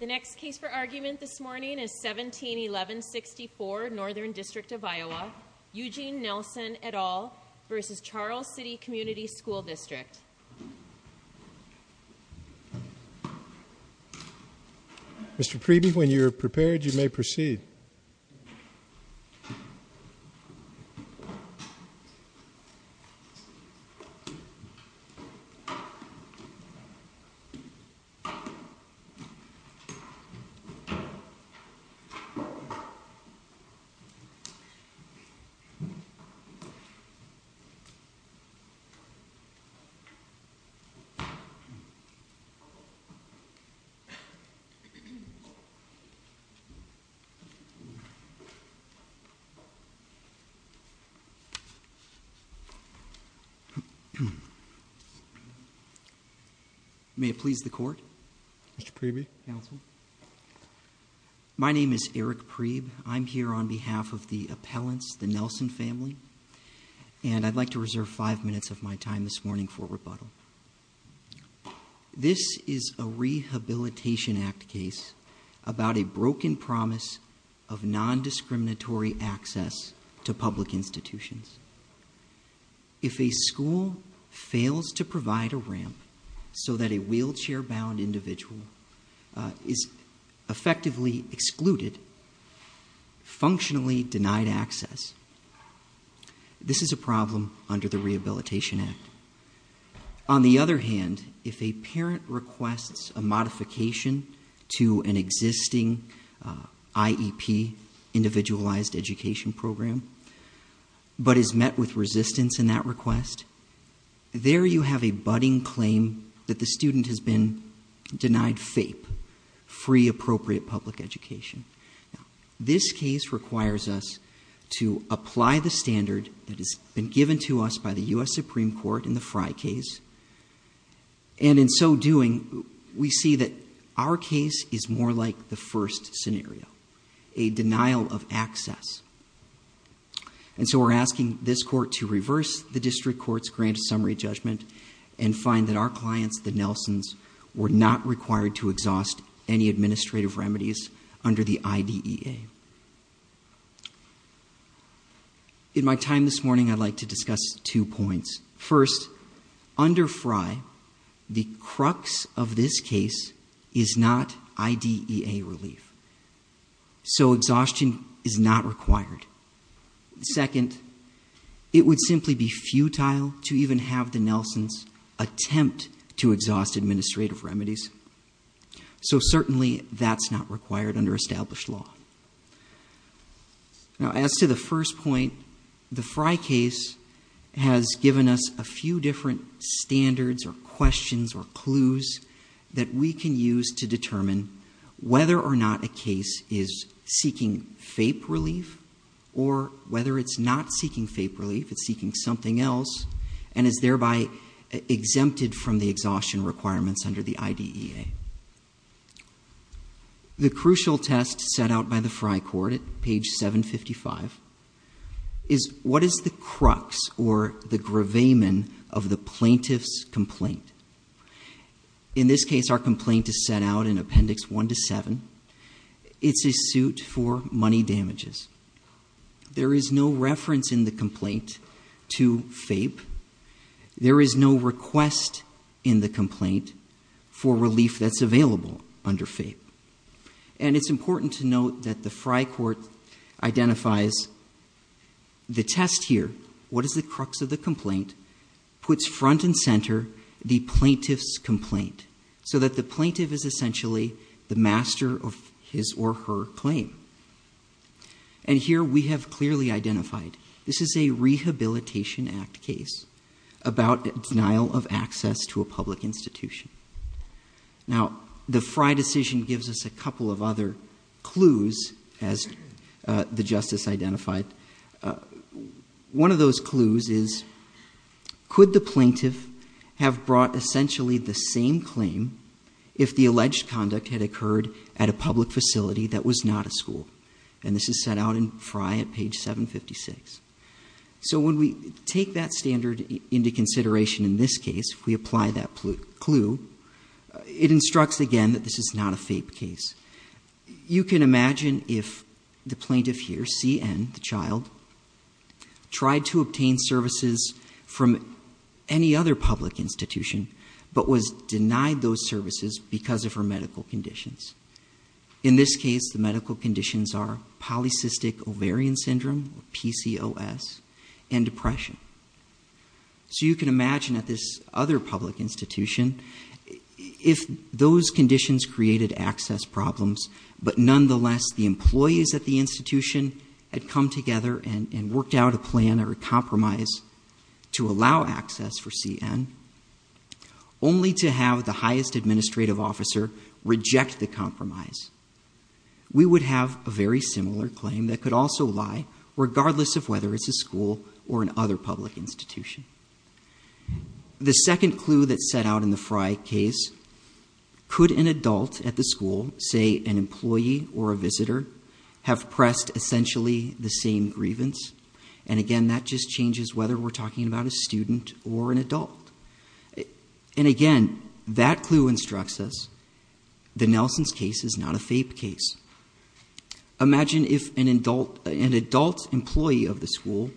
The next case for argument this morning is 17-1164 Northern District of Iowa Eugene Nelson et al. v. Charles City Community School District Mr. Preeby, when you are prepared, you may proceed Mr. Preeby, you may proceed Mr. Preeby, counsel When a newly found individual is effectively excluded, functionally denied access, this is a problem under the Rehabilitation Act. On the other hand, if a parent requests a modification to an existing IEP, Individualized Education Program, but is met with resistance in that request, there you have a budding claim that the student has been denied FAPE, Free Appropriate Public Education. This case requires us to apply the standard that has been given to us by the U.S. Supreme Court in the Frye case, and in so doing, we see that our case is more like the first scenario, a denial of access. And so we're asking this to the District Court's grand summary judgment and find that our clients, the Nelsons, were not required to exhaust any administrative remedies under the IDEA. In my time this morning, I'd like to discuss two points. First, under Frye, the crux of this case is not IDEA relief, so exhaustion is not required. Second, it would simply be futile to even have the Nelsons attempt to exhaust administrative remedies, so certainly that's not required under established law. As to the first point, the Frye case has given us a few different standards or questions or clues that we can use to determine whether or not a case is seeking FAPE relief, or whether it's not seeking FAPE relief, it's seeking something else, and is thereby exempted from the exhaustion requirements under the IDEA. The crucial test set out by the Frye Court at page 755 is what is the crux or the gravamen of the plaintiff's complaint? In this case, our complaint is set out in Appendix 1-7. It's a suit for money damages. There is no reference in the complaint to FAPE. There is no request in the complaint for relief that's available under FAPE. And it's important to note that the Frye Court identifies the test here, what is the crux of the complaint, puts front and center the plaintiff's complaint, so that the plaintiff is essentially the master of his or her claim. And here we have clearly identified, this is a Rehabilitation Act case about denial of access to a public institution. Now, the Frye decision gives us a couple of other clues, as the Justice identified. One of those clues is, could the plaintiff have brought essentially the same claim if the public facility that was not a school? And this is set out in Frye at page 756. So when we take that standard into consideration in this case, we apply that clue, it instructs again that this is not a FAPE case. You can imagine if the plaintiff here, C.N., the child, tried to obtain services from any other public institution, but was denied those services because of her medical conditions. In this case, the medical conditions are polycystic ovarian syndrome, PCOS, and depression. So you can imagine at this other public institution, if those conditions created access problems, but nonetheless the employees at the institution had come together and worked out a plan or a compromise to allow access for C.N., only to have the highest administrative officer reject the compromise, we would have a very similar claim that could also lie, regardless of whether it's a school or another public institution. The second clue that's set out in the Frye case, could an adult at the school, say an employee or a visitor, have pressed essentially the same grievance? And again, that just changes whether we're talking about a student or an adult. And again, that clue instructs us the Nelson's case is not a FAPE case. Imagine if an adult employee of the school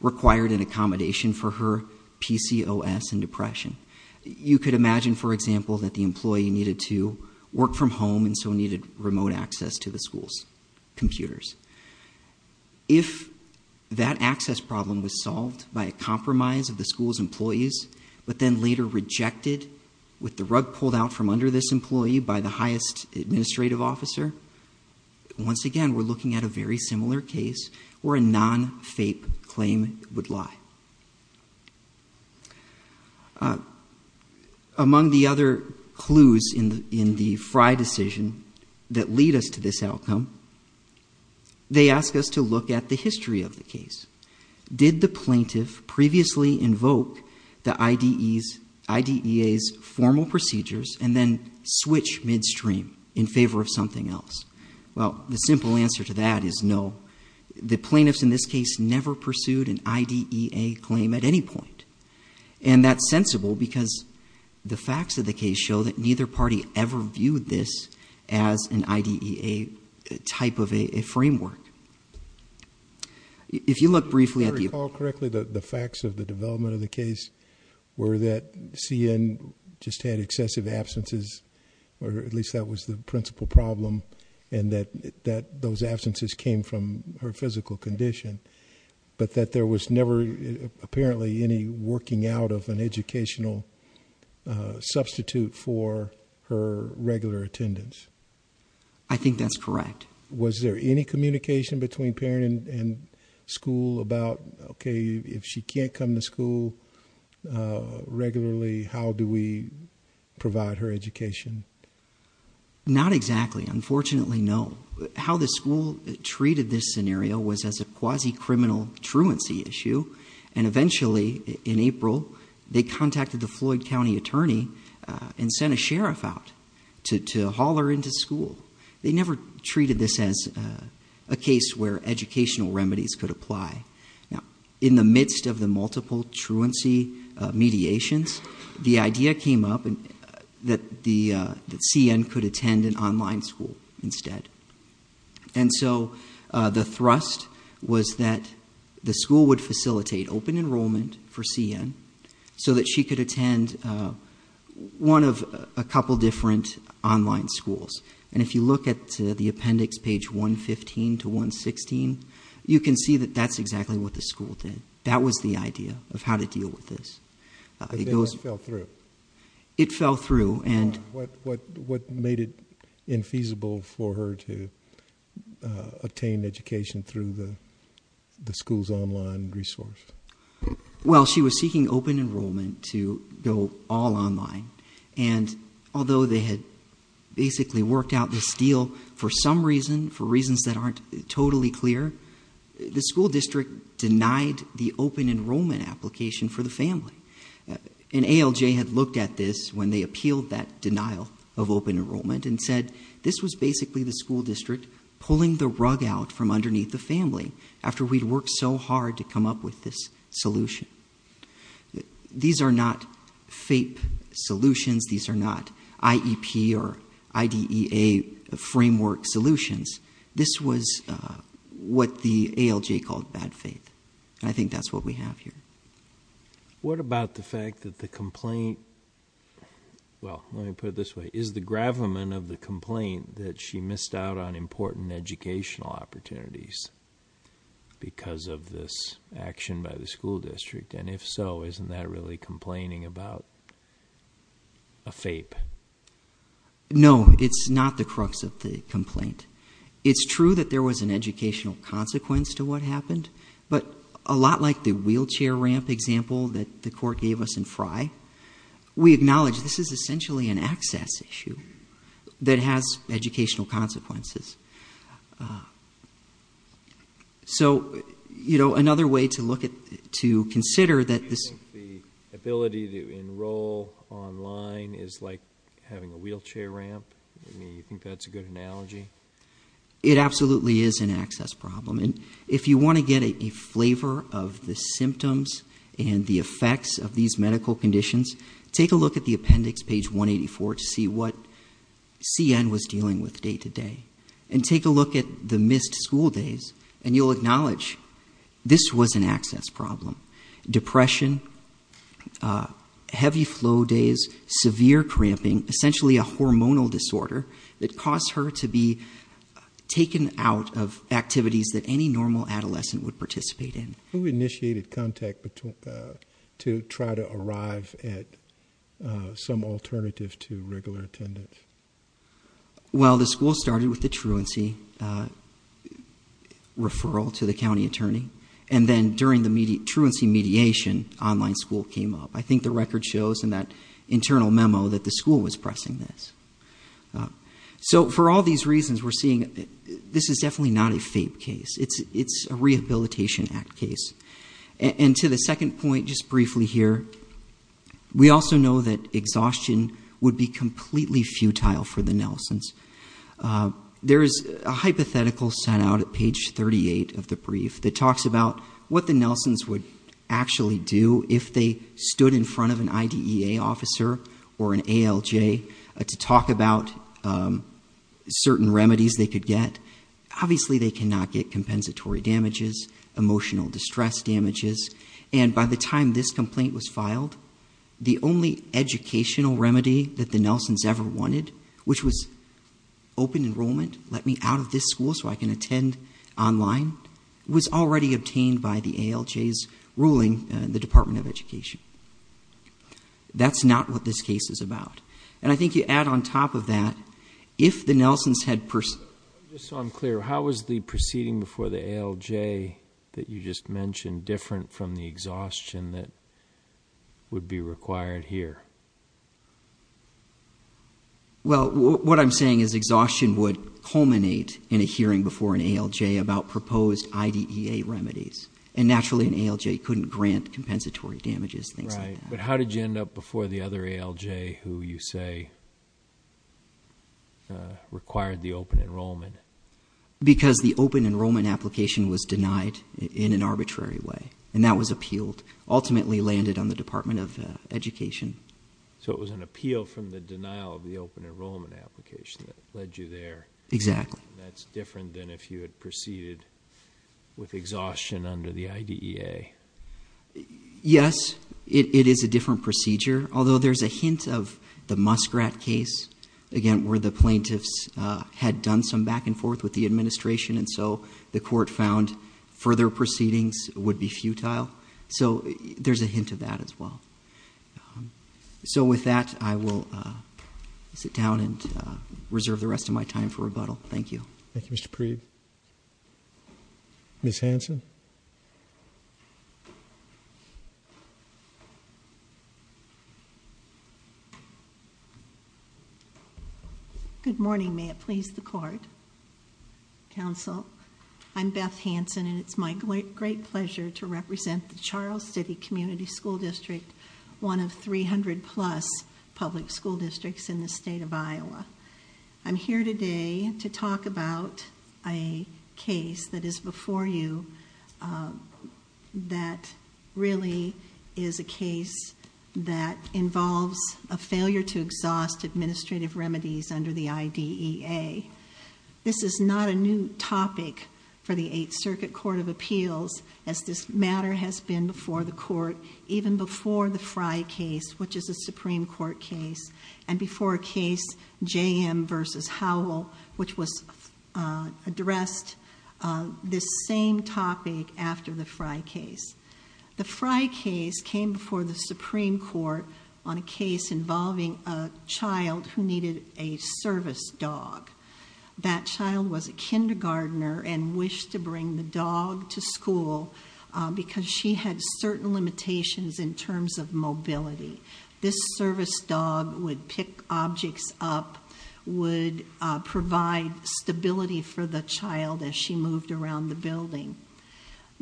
required an accommodation for her PCOS and depression. You could imagine, for example, that the employee needed to work from home and so needed remote access to the school's problem was solved by a compromise of the school's employees, but then later rejected with the rug pulled out from under this employee by the highest administrative officer. Once again, we're looking at a very similar case where a non-FAPE claim would lie. Among the other clues in the Frye decision that lead us to this outcome, they ask us to look at the history of the case. Did the plaintiff previously invoke the IDEA's formal procedures and then switch midstream in favor of something else? Well, the simple answer to that is no. The plaintiffs in this case never pursued an IDEA claim at any point. And that's sensible because the facts of the case show that neither party ever viewed this as an IDEA type of framework. If you look briefly at the... If I recall correctly, the facts of the development of the case were that C.N. just had excessive absences, or at least that was the principal problem, and that those absences came from her physical condition, but that there was never apparently any working out of an educational substitute for her regular attendance. I think that's correct. Was there any communication between parent and school about, okay, if she can't come to school regularly, how do we provide her education? Not exactly. Unfortunately, no. How the school treated this scenario was as a quasi-criminal truancy issue, and eventually, in April, they contacted the Floyd County attorney and sent a sheriff out to haul her into school. They never treated this as a case where educational remedies could apply. In the midst of the multiple truancy mediations, the idea came up that C.N. could attend an online school instead. And so the thrust was that the school would facilitate open enrollment for C.N. so that she could attend one of a couple different online schools. And if you look at the appendix, page 115 to 116, you can see that that's exactly what the school did. That was the idea of how to deal with this. But then it fell through. It fell through. What made it infeasible for her to attain education through the school's online resource? Well, she was seeking open enrollment to go all online. And although they had basically worked out this deal for some reason, for reasons that aren't totally clear, the school district denied the open enrollment application for the family. And ALJ had looked at this when they appealed that denial of open enrollment and said, this was basically the school district pulling the rug out from underneath the family after we'd worked so hard to come up with this solution. These are not FAPE solutions. These are not IEP or IDEA framework solutions. This was what the ALJ called bad faith. And I think that's what we have here. What about the fact that the complaint, well, let me put it this way, is the gravamen of the complaint that she missed out on important educational opportunities because of this action by the school district. And if so, isn't that really complaining about a FAPE? No, it's not the crux of the complaint. It's true that there was an educational consequence to what happened. But a lot like the wheelchair ramp example that the court gave us in Frye, we acknowledge this is essentially an access issue that has educational consequences. Do you think the ability to enroll online is like having a wheelchair ramp? Do you think that's a good analogy? It absolutely is an access problem. And if you want to get a flavor of the symptoms and the effects of these medical conditions, take a look at the appendix, page 184, to see what happened. And take a look at the missed school days, and you'll acknowledge this was an access problem. Depression, heavy flow days, severe cramping, essentially a hormonal disorder that caused her to be taken out of activities that any normal adolescent would participate in. Who initiated contact to try to arrive at some alternative to regular attendance? Well, the school started with the truancy referral to the county attorney, and then during the truancy mediation, online school came up. I think the record shows in that internal memo that the school was pressing this. So for all these reasons, we're seeing this is definitely not a FAPE case. It's a Rehabilitation Act case. And to the second point, just briefly here, we also know that exhaustion would be futile for the Nelsons. There is a hypothetical sent out at page 38 of the brief that talks about what the Nelsons would actually do if they stood in front of an IDEA officer or an ALJ to talk about certain remedies they could get. Obviously, they cannot get compensatory damages, emotional distress damages. And by the time this complaint was filed, the only educational remedy that the Nelsons ever wanted, which was open enrollment, let me out of this school so I can attend online, was already obtained by the ALJ's ruling in the Department of Education. That's not what this case is about. And I think you add on top of that, if the Nelsons had personally... Just so I'm clear, how was the proceeding before the ALJ that you just mentioned different from the exhaustion that would be required here? Well, what I'm saying is exhaustion would culminate in a hearing before an ALJ about proposed IDEA remedies. And naturally, an ALJ couldn't grant compensatory damages, things like that. Right. But how did you end up before the other ALJ who you say required the open enrollment? Because the open enrollment application was denied in an arbitrary way. And that was appealed, ultimately landed on the Department of Education. So it was an appeal from the denial of the open enrollment application that led you there. Exactly. That's different than if you had proceeded with exhaustion under the IDEA. Yes, it is a different procedure. Although there's a hint of the Musgrat case, again, where the plaintiffs had done some back and forth with the administration, and so the court found further proceedings would be futile. So there's a hint of that as well. So with that, I will sit down and reserve the rest of my time for rebuttal. Thank you. Thank you, Mr. Preeb. Ms. Hanson? Good morning. May it please the court, counsel? I'm Beth Hanson, and it's my great pleasure to represent the Charles City Community School District, one of 300-plus public school districts in the state of Iowa. I'm here today to talk about a case that is before you that really is a case that involves a failure to exhaust administrative remedies under the IDEA. This is not a new topic for the Eighth Circuit Court of Appeals, as this matter has been before the court even before the Frye case, which is a Supreme Court case, and before a case, J.M. v. Howell, which addressed this same topic after the Frye case. The Frye case came before the Supreme Court on a case involving a child who needed a service dog. That child was a kindergartner and wished to bring the dog to school because she had certain limitations in terms of mobility. This service dog would pick objects up, would provide stability for the child as she moved around the building.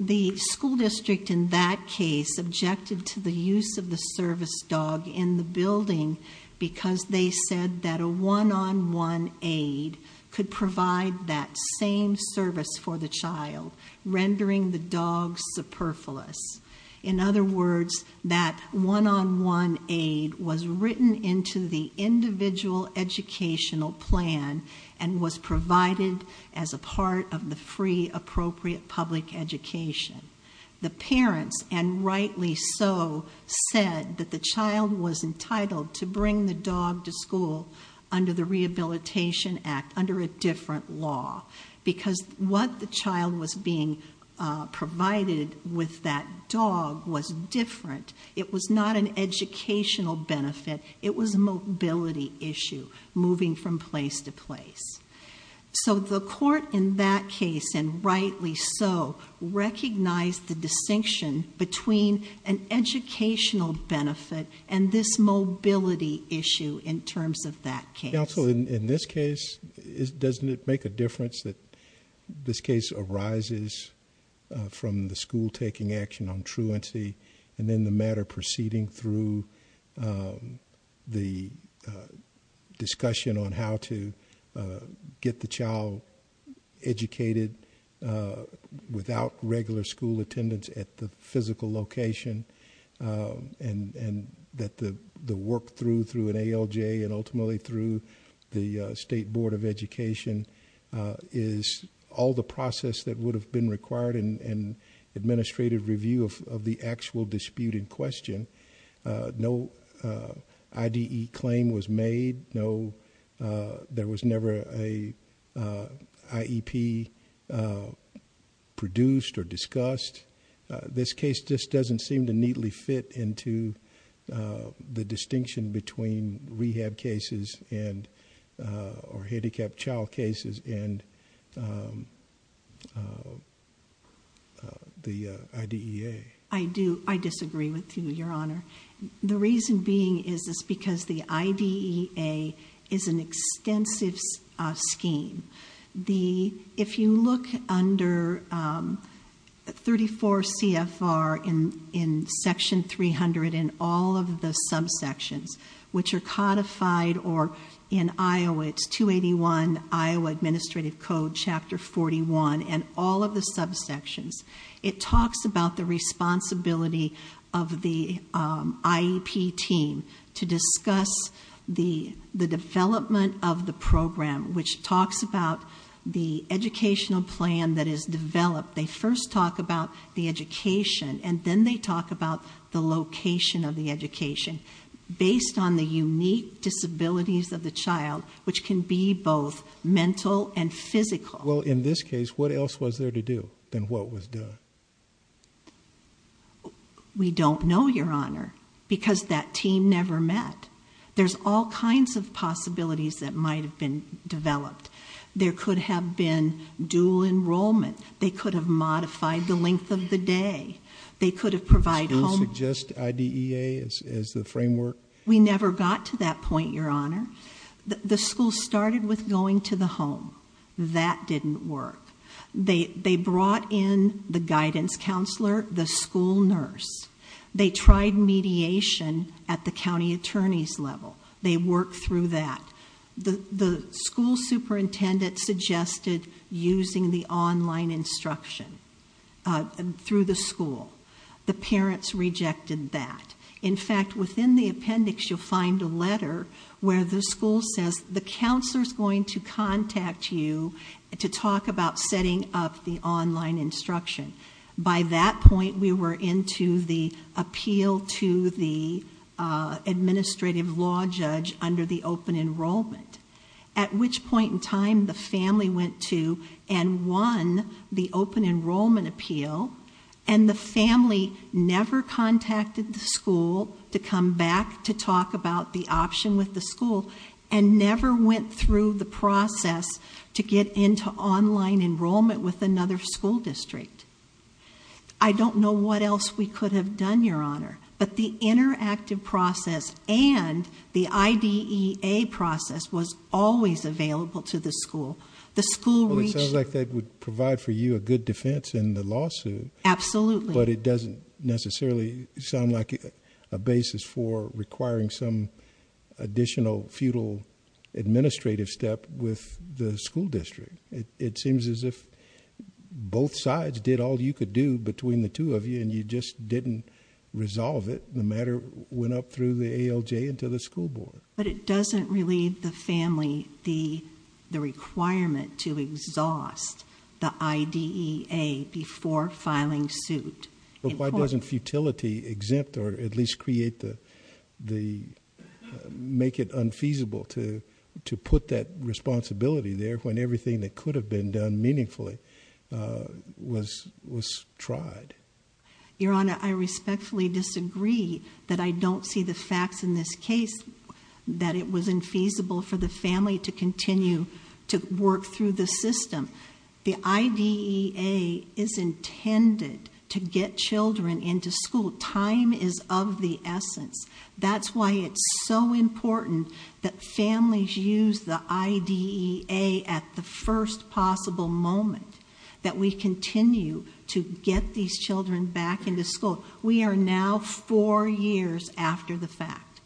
The school district in that case objected to the use of the service dog in the building because they said that a one-on-one aid could provide that same service for the child, rendering the dog superfluous. In other words, that one-on-one aid was written into the individual educational plan and was provided as a service as a part of the free, appropriate public education. The parents, and rightly so, said that the child was entitled to bring the dog to school under the Rehabilitation Act, under a different law, because what the child was being provided with that dog was different. It was not an educational benefit. It was a mobility issue, moving from place to place. So the court in that case, and rightly so, recognized the distinction between an educational benefit and this mobility issue in terms of that case. Counsel, in this case, doesn't it make a difference that this case arises from the school taking action on truancy, and then the matter proceeding through the discussion on how to provide a get-the-child-educated-without-regular-school-attendance-at-the-physical-location, and that the work through, through an ALJ and ultimately through the State Board of Education, is all the process that would have been required in administrative review of the actual disputed question. No IDE claim was made. No, there was never an IEP produced or discussed. This case just doesn't seem to neatly fit into the distinction between rehab cases and, or handicapped child cases and the IDEA. I do, I disagree with you, Your Honor. The reason being is this, because the IDEA is an extensive scheme. The, if you look under 34 CFR in Section 300 and all of the subsections, which are codified or in Iowa, it's 281 Iowa Administrative Code, Chapter 41, and all of the subsections, it talks about the responsibility of the IEP team to discuss the development of the program, which talks about the educational plan that is developed. They first talk about the education, and then they talk about the location of the education, based on the unique disabilities of the child, which can be both mental and physical. Well, in this case, what else was there to do than what was done? We don't know, Your Honor, because that team never met. There's all kinds of possibilities that might have been developed. There could have been dual enrollment. They could have modified the length of the day. They could have provided home... The school suggests IDEA as the framework? We never got to that point, Your Honor. The school started with going to the home. That didn't work. They brought in the guidance counselor, the school nurse. They tried mediation at the county attorney's level. They worked through that. The school superintendent suggested using the online instruction through the school. The parents rejected that. In fact, within the appendix, you'll find a letter where the school says, the counselor's going to contact you to talk about setting up the online instruction. By that point, we were into the appeal to the administrative law judge under the open enrollment, at which point in time, the family went to and won the open enrollment appeal. The family never contacted the school to come back to talk about the option with the school and never went through the process to get into online enrollment with another school district. I don't know what else we could have done, Your Honor, but the interactive process and the IDEA process was always available to the school. The school reached... Well, it sounds like that would provide for you a good defense in the lawsuit. Absolutely. But it doesn't necessarily sound like a basis for requiring some additional feudal administrative step with the school district. It seems as if both sides did all you could do between the two of you and you just didn't resolve it. The matter went up through the ALJ and to the school board. But it doesn't relieve the family the requirement to exhaust the IDEA before filing suit. But why doesn't futility exempt or at least make it unfeasible to put that responsibility there when everything that could have been done meaningfully was tried? Your Honor, I respectfully disagree that I don't see the facts in this case that it was infeasible for the family to continue to work through the system. The IDEA is intended to get children into school. Time is of the essence. That's why it's so important that families use the IDEA at the first possible moment that we continue to get these children back into school. We are now four years after the fact.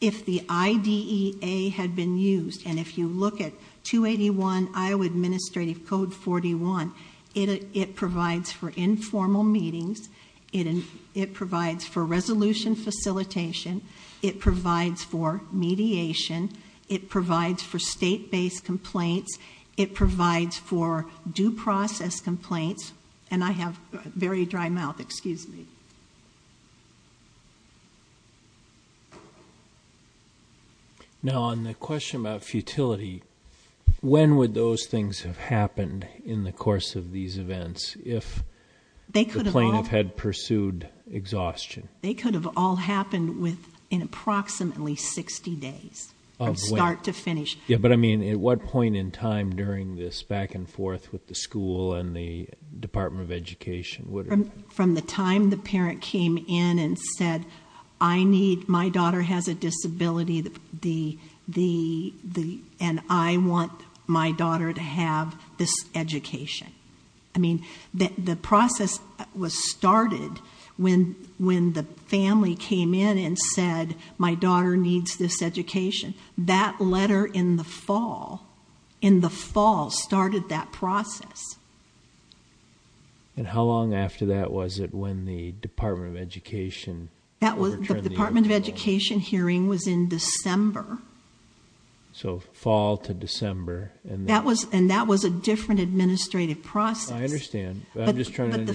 If the IDEA had been used and if you look at 281 Iowa Administrative Code 41, it provides for informal meetings. It provides for resolution facilitation. It provides for mediation. It provides for state-based complaints. It provides for due process complaints. And I have very dry mouth, excuse me. Now, on the question about futility, when would those things have happened in the course of these events if the plaintiff had pursued exhaustion? They could have all happened within approximately 60 days from start to finish. But I mean, at what point in time during this back and forth with the school and the Department of Education? From the time the parent came in and said, I need, my daughter has a disability, and I want my daughter to have this education. I mean, the process was started when the family came in and said, my daughter needs this education. That letter in the fall, in the fall started that process. And how long after that was it when the Department of Education overturned the EDEA rule? That was, the Department of Education hearing was in December. So fall to December. And that was a different administrative process. I understand, but I'm just trying to understand. But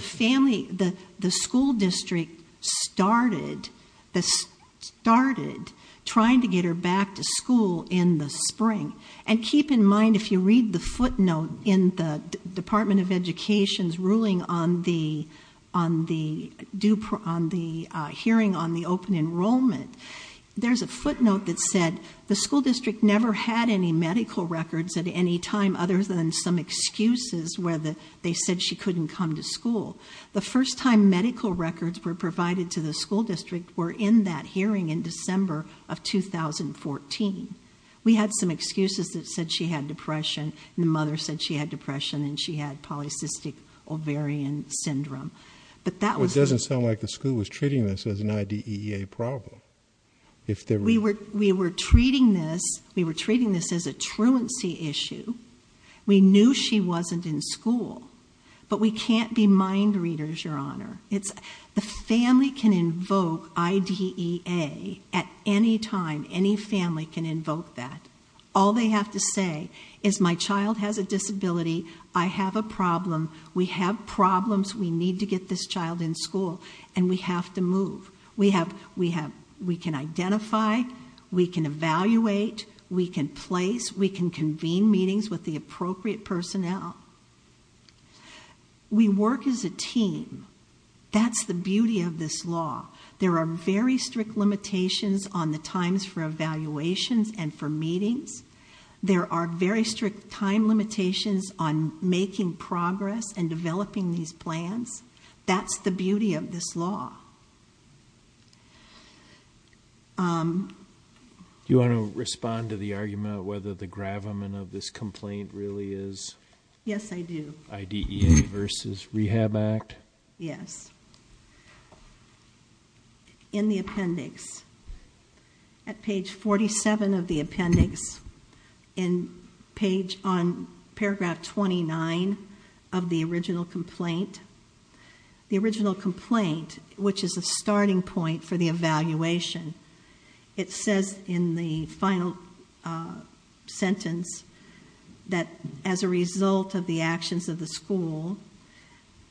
the family, the school district started trying to get her back to school in the spring. And keep in mind, if you read the footnote in the Department of Education's ruling on the hearing on the open enrollment, there's a footnote that said the school district never had any medical records at any time other than some excuses where they said she couldn't come to school. The first time medical records were provided to the school district were in that hearing in December of 2014. We had some excuses that said she had depression, and the mother said she had depression and she had polycystic ovarian syndrome, but that was- It doesn't sound like the school was treating this as an IDEA problem. We were treating this, we were treating this as a truancy issue. We knew she wasn't in school. But we can't be mind readers, your honor. The family can invoke IDEA at any time, any family can invoke that. All they have to say is my child has a disability, I have a problem, we have problems, we need to get this child in school, and we have to move. We can identify, we can evaluate, we can place, we can convene meetings with the appropriate personnel. We work as a team, that's the beauty of this law. There are very strict limitations on the times for evaluations and for meetings. There are very strict time limitations on making progress and developing these plans, that's the beauty of this law. Do you want to respond to the argument about whether the gravamen of this complaint really is? Yes, I do. IDEA versus Rehab Act? Yes. In the appendix, at page 47 of the appendix, in page on paragraph 29 of the original complaint. The original complaint, which is a starting point for the evaluation. It says in the final sentence that as a result of the actions of the school,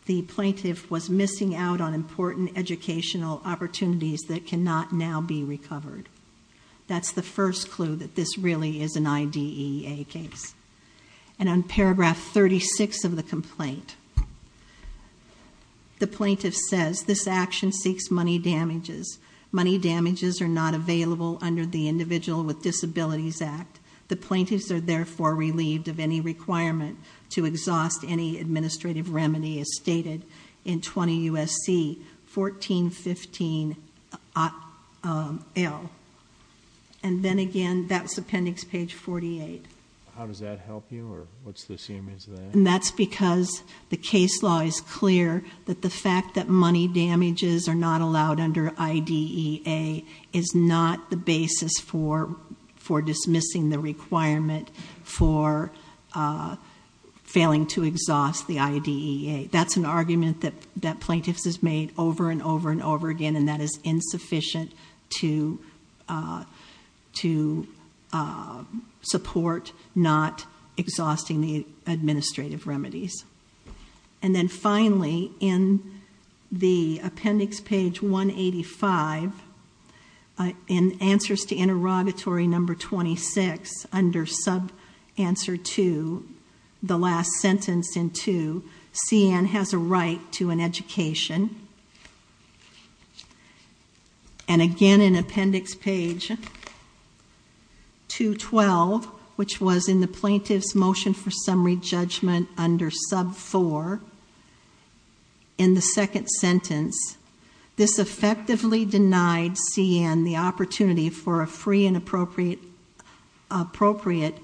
the plaintiff was missing out on important educational opportunities that cannot now be recovered. That's the first clue that this really is an IDEA case. And on paragraph 36 of the complaint, the plaintiff says this action seeks money damages. Damages are not available under the Individual with Disabilities Act. The plaintiffs are therefore relieved of any requirement to exhaust any administrative remedy as stated in 20 U.S.C. 1415L. And then again, that's appendix page 48. How does that help you, or what's the significance of that? And that's because the case law is clear that the fact that money damages are not allowed under IDEA is not the basis for dismissing the requirement for failing to exhaust the IDEA. That's an argument that plaintiffs has made over and over and over again, and that is insufficient to support not exhausting the administrative remedies. And then finally, in the appendix page 185, in answers to interrogatory number 26, under sub answer two, the last sentence in two, CN has a right to an education. And again, in appendix page 212, which was in the plaintiff's motion for summary judgment under sub four, in the second sentence, this effectively denied CN the opportunity for a free and appropriate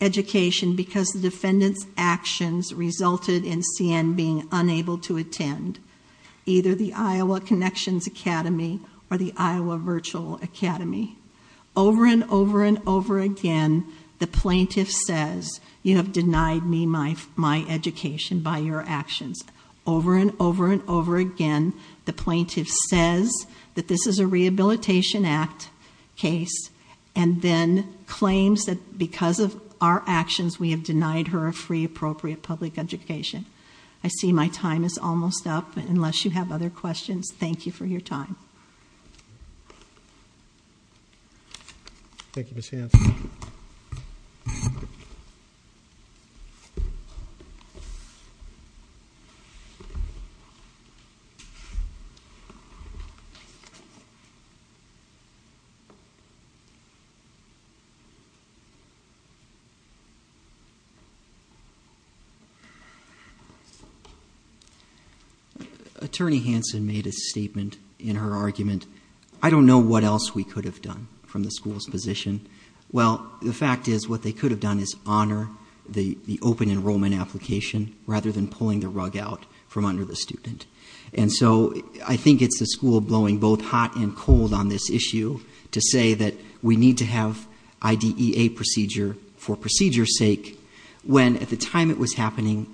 education because the defendant's unable to attend either the Iowa Connections Academy or the Iowa Virtual Academy. Over and over and over again, the plaintiff says, you have denied me my education by your actions. Over and over and over again, the plaintiff says that this is a rehabilitation act case, and then claims that because of our actions, we have denied her a free appropriate public education. I see my time is almost up, unless you have other questions, thank you for your time. Thank you, Ms. Hanson. Attorney Hanson made a statement in her argument. I don't know what else we could have done from the school's position. Well, the fact is, what they could have done is honor the open enrollment application, rather than pulling the rug out from under the student. And so, I think it's the school blowing both hot and cold on this issue, to say that we need to have IDEA procedure for procedure's sake. When at the time it was happening,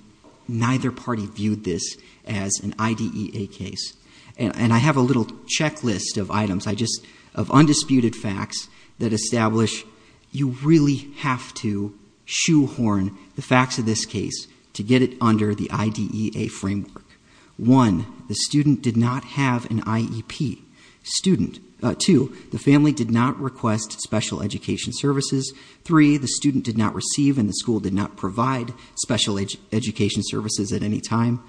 neither party viewed this as an IDEA case. And I have a little checklist of items, I just, of undisputed facts that establish you really have to shoehorn the facts of this case to get it under the IDEA framework. One, the student did not have an IEP. Two, the family did not request special education services. Three, the student did not receive and the school did not provide special education services at any time.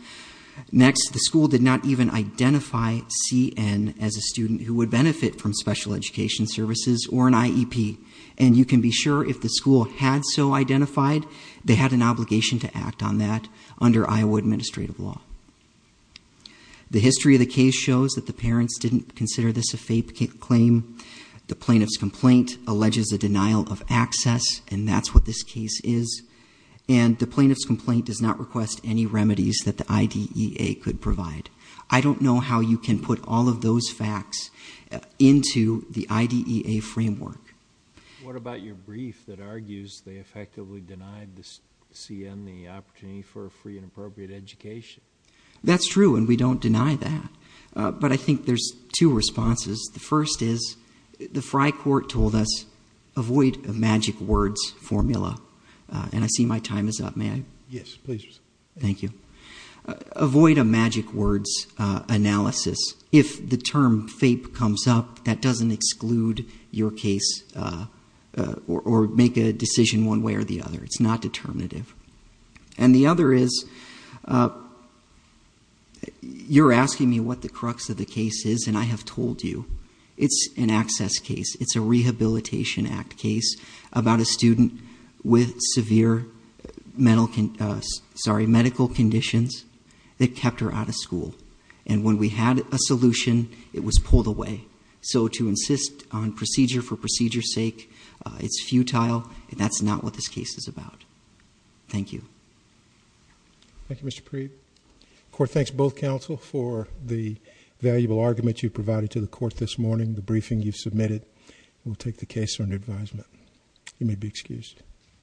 Next, the school did not even identify CN as a student who would benefit from special education services or an IEP. And you can be sure if the school had so identified, they had an obligation to act on that under Iowa administrative law. The history of the case shows that the parents didn't consider this a fake claim. The plaintiff's complaint alleges a denial of access, and that's what this case is. And the plaintiff's complaint does not request any remedies that the IDEA could provide. I don't know how you can put all of those facts into the IDEA framework. What about your brief that argues they effectively denied CN the opportunity for a free and appropriate education? That's true, and we don't deny that, but I think there's two responses. The first is, the Fri Court told us, avoid a magic words formula. And I see my time is up, may I? Yes, please. Thank you. Avoid a magic words analysis. If the term fape comes up, that doesn't exclude your case or make a decision one way or the other. It's not determinative. And the other is, you're asking me what the crux of the case is and I have told you, it's an access case, it's a Rehabilitation Act case about a student with severe medical conditions that kept her out of school. And when we had a solution, it was pulled away. So to insist on procedure for procedure's sake, it's futile, and that's not what this case is about. Thank you. Thank you, Mr. Preet. Court thanks both counsel for the valuable argument you provided to the court this morning, the briefing you submitted. We'll take the case under advisement. You may be excused.